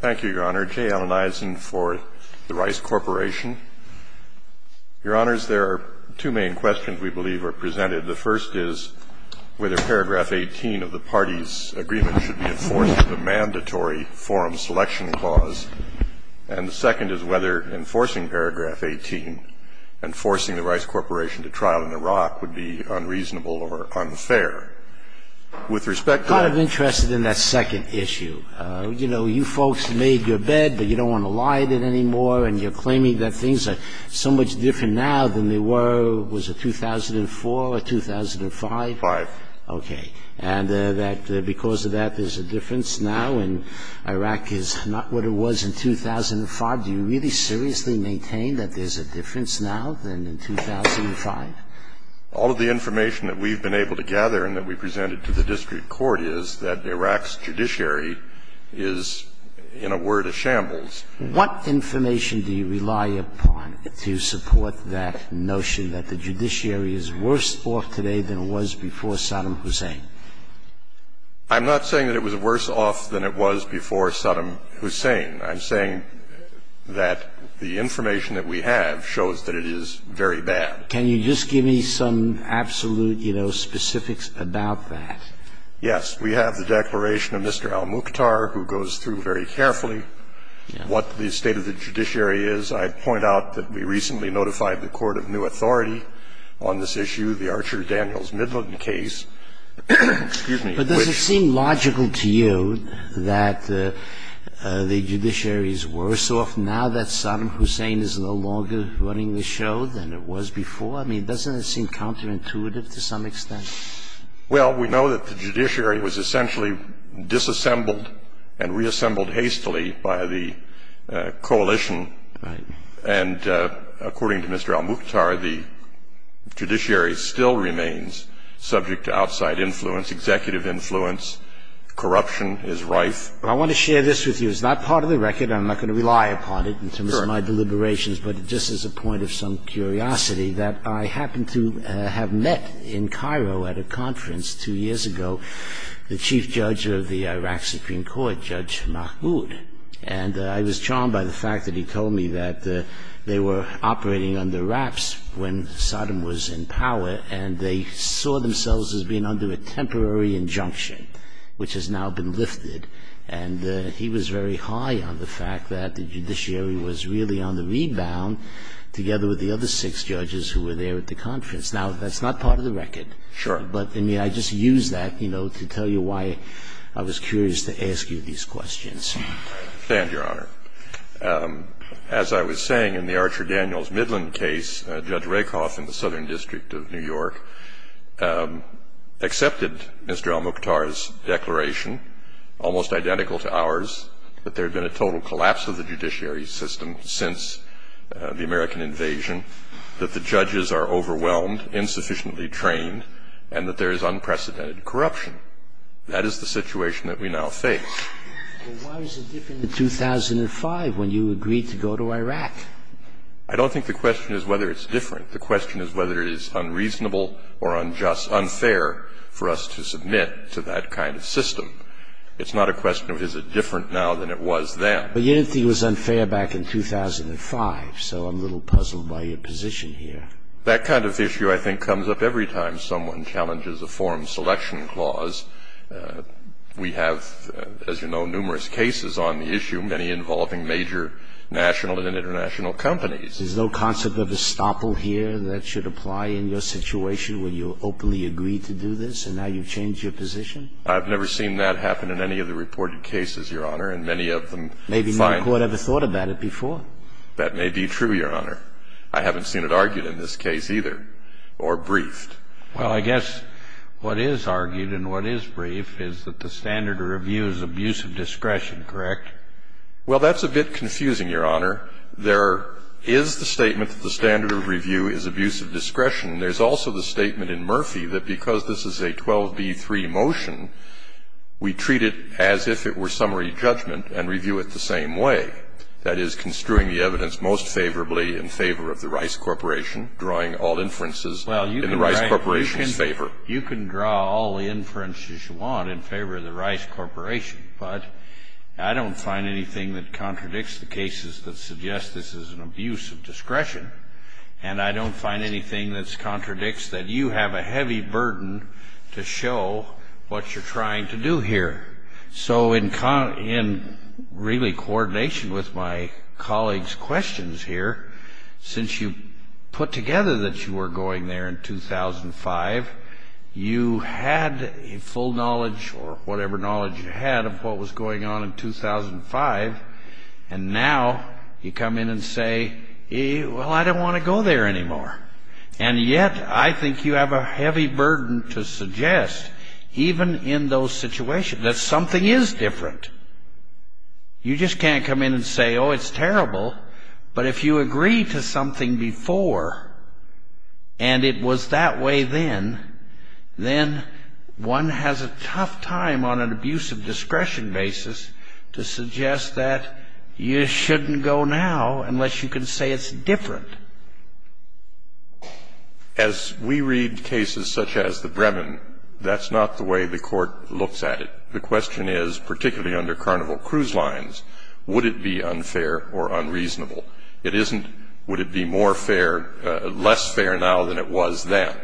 Thank you, Your Honor. Jay Allen Eisen for the Rice Corporation. Your Honors, there are two main questions we believe are presented. The first is whether paragraph 18 of the party's agreement should be enforced with a mandatory forum selection clause. And the second is whether enforcing paragraph 18 and forcing the Rice Corporation to trial in Iraq would be unreasonable or unfair. I'm kind of interested in that second issue. You know, you folks made your bed, but you don't want to lie to it anymore, and you're claiming that things are so much different now than they were, was it 2004 or 2005? Five. Okay. And that because of that there's a difference now, and Iraq is not what it was in 2005. Do you really seriously maintain that there's a difference now than in 2005? All of the information that we've been able to gather and that we presented to the district court is that Iraq's judiciary is, in a word, a shambles. What information do you rely upon to support that notion that the judiciary is worse off today than it was before Saddam Hussein? I'm not saying that it was worse off than it was before Saddam Hussein. I'm saying that the information that we have shows that it is very bad. Can you just give me some absolute, you know, specifics about that? Yes. We have the declaration of Mr. al-Mukhtar, who goes through very carefully what the state of the judiciary is. I'd point out that we recently notified the court of new authority on this issue, the Archer Daniels Midland case. But does it seem logical to you that the judiciary is worse off now that Saddam Hussein is no longer running the show than it was before? I mean, doesn't it seem counterintuitive to some extent? Well, we know that the judiciary was essentially disassembled and reassembled hastily by the coalition. And according to Mr. al-Mukhtar, the judiciary still remains subject to outside influence, executive influence. Corruption is rife. I want to share this with you. It's not part of the record. I'm not going to rely upon it in terms of my deliberations. But just as a point of some curiosity, that I happened to have met in Cairo at a conference two years ago the chief judge of the Iraq Supreme Court, Judge Mahmoud. And I was charmed by the fact that he told me that they were operating under wraps when Saddam was in power and they saw themselves as being under a temporary injunction, which has now been lifted. And he was very high on the fact that the judiciary was really on the rebound, together with the other six judges who were there at the conference. Now, that's not part of the record. Sure. But, I mean, I just used that, you know, to tell you why I was curious to ask you these questions. Stand, Your Honor. As I was saying in the Archer Daniels Midland case, Judge Rakoff in the Southern District of New York accepted Mr. Al-Mukhtar's declaration, almost identical to ours, that there had been a total collapse of the judiciary system since the American invasion, that the judges are overwhelmed, insufficiently trained, and that there is unprecedented corruption. That is the situation that we now face. Why was it different in 2005 when you agreed to go to Iraq? I don't think the question is whether it's different. The question is whether it is unreasonable or unfair for us to submit to that kind of system. It's not a question of is it different now than it was then. But you didn't think it was unfair back in 2005, so I'm a little puzzled by your position here. That kind of issue, I think, comes up every time someone challenges a form selection clause. We have, as you know, numerous cases on the issue, many involving major national and international companies. There's no concept of estoppel here that should apply in your situation when you openly agreed to do this and now you've changed your position? I've never seen that happen in any of the reported cases, Your Honor, and many of them find that. Maybe no court ever thought about it before. That may be true, Your Honor. I haven't seen it argued in this case either or briefed. Well, I guess what is argued and what is brief is that the standard of review is abuse of discretion, correct? Well, that's a bit confusing, Your Honor. There is the statement that the standard of review is abuse of discretion. There's also the statement in Murphy that because this is a 12b-3 motion, we treat it as if it were summary judgment and review it the same way, that is construing the evidence most favorably in favor of the Rice Corporation, drawing all inferences in the Rice Corporation's favor. Well, you can draw all the inferences you want in favor of the Rice Corporation, but I don't find anything that contradicts the cases that suggest this is an abuse of discretion, and I don't find anything that contradicts that you have a heavy burden to show what you're trying to do here. So in really coordination with my colleague's questions here, since you put together that you were going there in 2005, you had full knowledge or whatever knowledge you had of what was going on in 2005, and now you come in and say, well, I don't want to go there anymore. And yet I think you have a heavy burden to suggest, even in those situations, that something is different. You just can't come in and say, oh, it's terrible. But if you agree to something before and it was that way then, then one has a tough time on an abuse of discretion basis to suggest that you shouldn't go now unless you can say it's different. As we read cases such as the Brevin, that's not the way the Court looks at it. The question is, particularly under Carnival Cruise Lines, would it be unfair or unreasonable? It isn't would it be more fair, less fair now than it was then.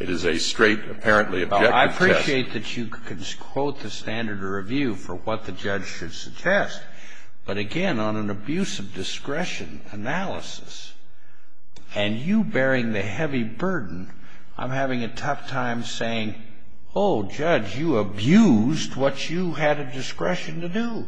It is a straight, apparently objective test. I appreciate that you could quote the standard of review for what the judge should suggest, but again, on an abuse of discretion analysis, and you bearing the heavy burden, I'm having a tough time saying, oh, judge, you abused what you had a discretion to do.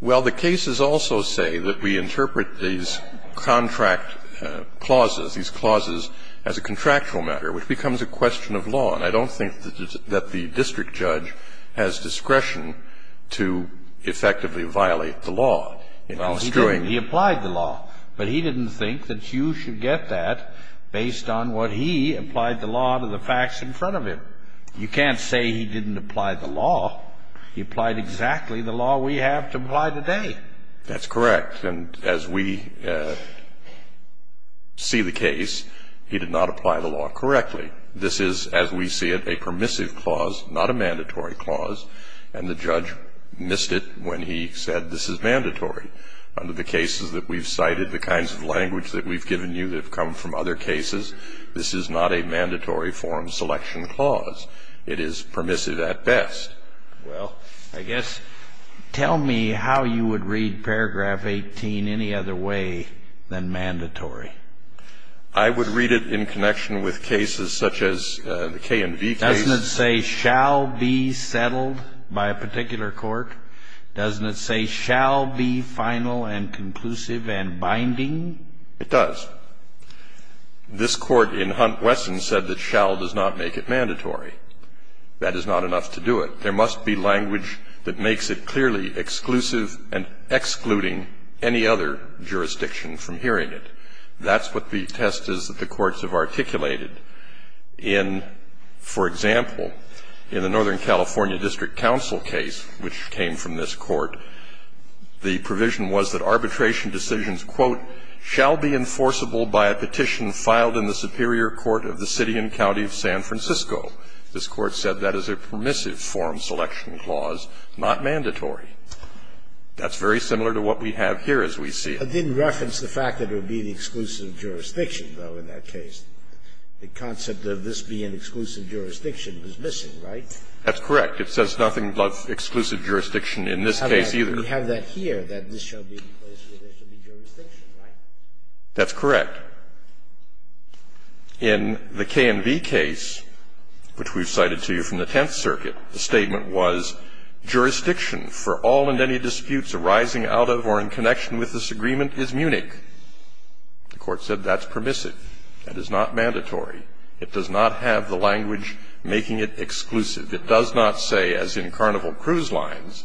Well, the cases also say that we interpret these contract clauses, these clauses, as a contractual matter, which becomes a question of law. And I don't think that the district judge has discretion to effectively violate the law. He applied the law. But he didn't think that you should get that based on what he applied the law to the facts in front of him. You can't say he didn't apply the law. He applied exactly the law we have to apply today. That's correct. And as we see the case, he did not apply the law correctly. This is, as we see it, a permissive clause, not a mandatory clause. And the judge missed it when he said this is mandatory. Under the cases that we've cited, the kinds of language that we've given you that have come from other cases, this is not a mandatory form selection clause. It is permissive at best. Well, I guess tell me how you would read paragraph 18 any other way than mandatory. I would read it in connection with cases such as the K&V case. Doesn't it say shall be settled by a particular court? Doesn't it say shall be final and conclusive and binding? It does. This Court in Hunt-Wesson said that shall does not make it mandatory. That is not enough to do it. There must be language that makes it clearly exclusive and excluding any other jurisdiction from hearing it. That's what the test is that the courts have articulated. In, for example, in the Northern California District Council case, which came from this Court, the provision was that arbitration decisions, quote, shall be enforceable by a petition filed in the Superior Court of the City and County of San Francisco. This Court said that is a permissive form selection clause, not mandatory. That's very similar to what we have here as we see it. And it didn't reference the fact that it would be the exclusive jurisdiction, though, in that case. The concept of this being exclusive jurisdiction was missing, right? That's correct. It says nothing about exclusive jurisdiction in this case either. We have that here, that this shall be the place where there should be jurisdiction, right? That's correct. In the K&V case, which we've cited to you from the Tenth Circuit, the statement was jurisdiction for all and any disputes arising out of or in connection with this agreement is Munich. The Court said that's permissive. That is not mandatory. It does not have the language making it exclusive. It does not say, as in Carnival Cruise Lines,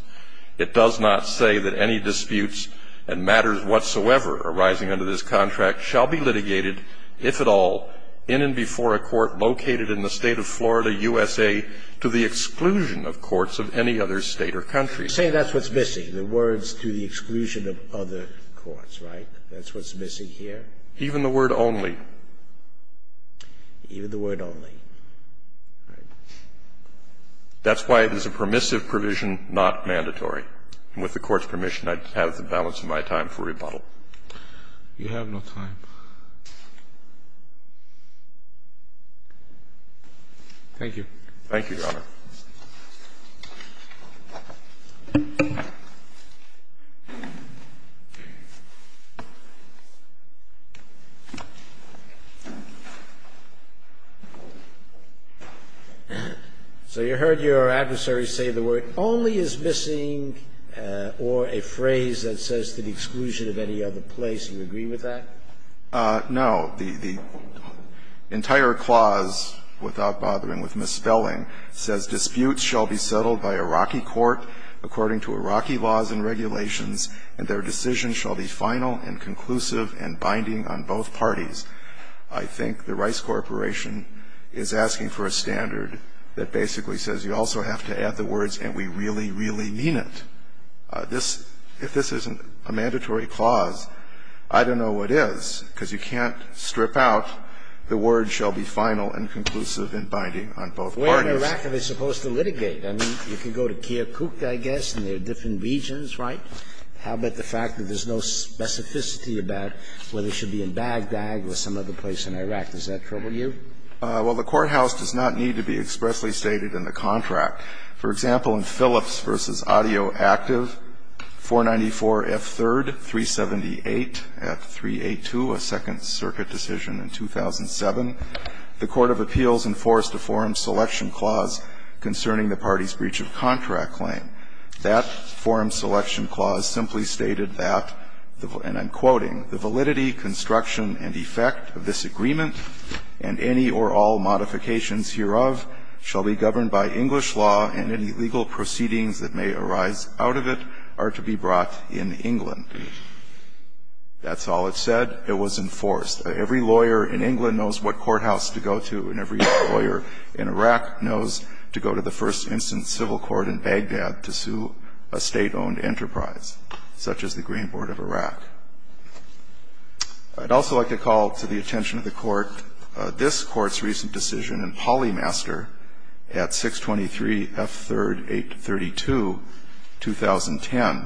it does not say that any disputes and matters whatsoever arising under this contract shall be litigated, if at all, in and before a court located in the State of Florida, USA, to the exclusion of courts of any other State or country. You say that's what's missing, the words to the exclusion of other courts, right? That's what's missing here? Even the word only. Even the word only. That's why it is a permissive provision, not mandatory. And with the Court's permission, I have the balance of my time for rebuttal. You have no time. Thank you. Thank you, Your Honor. So you heard your adversary say the word only is missing or a phrase that says to the exclusion of any other place. Do you agree with that? No. The entire clause, without bothering with misspelling, says that only is missing or a phrase that says disputes shall be settled by Iraqi court according to Iraqi laws and regulations, and their decision shall be final and conclusive and binding on both parties. I think the Rice Corporation is asking for a standard that basically says you also have to add the words, and we really, really mean it. If this isn't a mandatory clause, I don't know what is, because you can't strip out the word shall be final and conclusive and binding on both parties. Where in Iraq are they supposed to litigate? I mean, you can go to Kirkuk, I guess, and there are different regions, right? How about the fact that there's no specificity about whether it should be in Baghdad or some other place in Iraq? Does that trouble you? Well, the courthouse does not need to be expressly stated in the contract. For example, in Phillips v. Audioactive, 494F3rd 378F382, a Second Circuit decision in 2007, the court of appeals enforced a forum selection clause concerning the party's breach of contract claim. That forum selection clause simply stated that, and I'm quoting, the validity, construction, and effect of this agreement and any or all modifications hereof shall be governed by English law, and any legal proceedings that may arise out of it are to be brought in England. That's all it said. It was enforced. Every lawyer in England knows what courthouse to go to, and every lawyer in Iraq knows to go to the first instance civil court in Baghdad to sue a State-owned enterprise, such as the Green Board of Iraq. I'd also like to call to the attention of the Court this Court's recent decision in Polymaster at 623F3rd 832, 2010.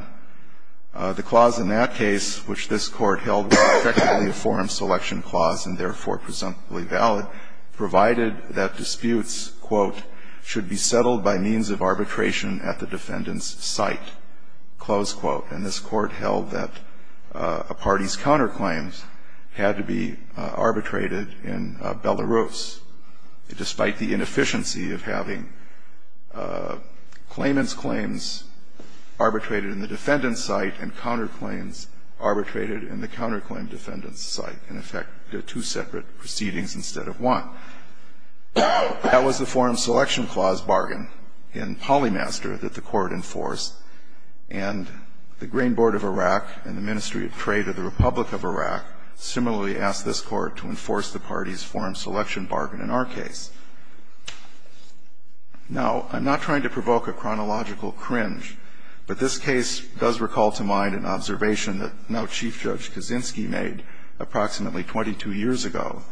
The clause in that case, which this Court held was effectively a forum selection clause and therefore presumably valid, provided that disputes, quote, should be settled by means of arbitration at the defendant's site, close quote. And this Court held that a party's counterclaims had to be arbitrated in Belarus despite the inefficiency of having claimant's claims arbitrated in the defendant's site and counterclaims arbitrated in the counterclaim defendant's site. In effect, two separate proceedings instead of one. That was the forum selection clause bargain in Polymaster that the Court enforced. And the Green Board of Iraq and the Ministry of Trade of the Republic of Iraq similarly asked this Court to enforce the party's forum selection bargain in our case. Now, I'm not trying to provoke a chronological cringe, but this case does recall to mind an observation that now Chief Judge Kaczynski made approximately 22 years ago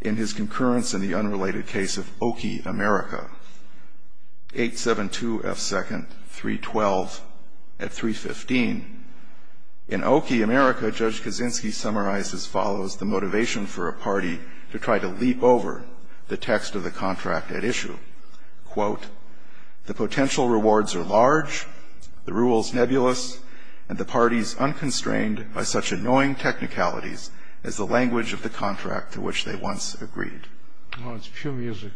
in his concurrence in the unrelated case of Oki, America, 872F2nd 312 at 315. In Oki, America, Judge Kaczynski summarized as follows the motivation for a party to try to leap over the text of the contract at issue. Quote, the potential rewards are large, the rules nebulous, and the parties unconstrained by such annoying technicalities as the language of the contract to which they once agreed. Well, it's pure music.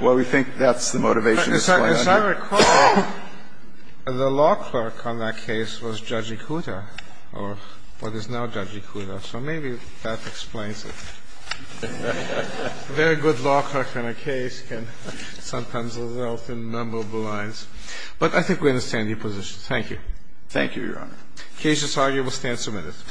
Well, we think that's the motivation. As I recall, the law clerk on that case was Judge Ikuta or what is now Judge Ikuta, so maybe that explains it. A very good law clerk in a case can sometimes result in memorable lines. But I think we understand your position. Thank you. Thank you, Your Honor. The case is argued. We'll stand some minutes.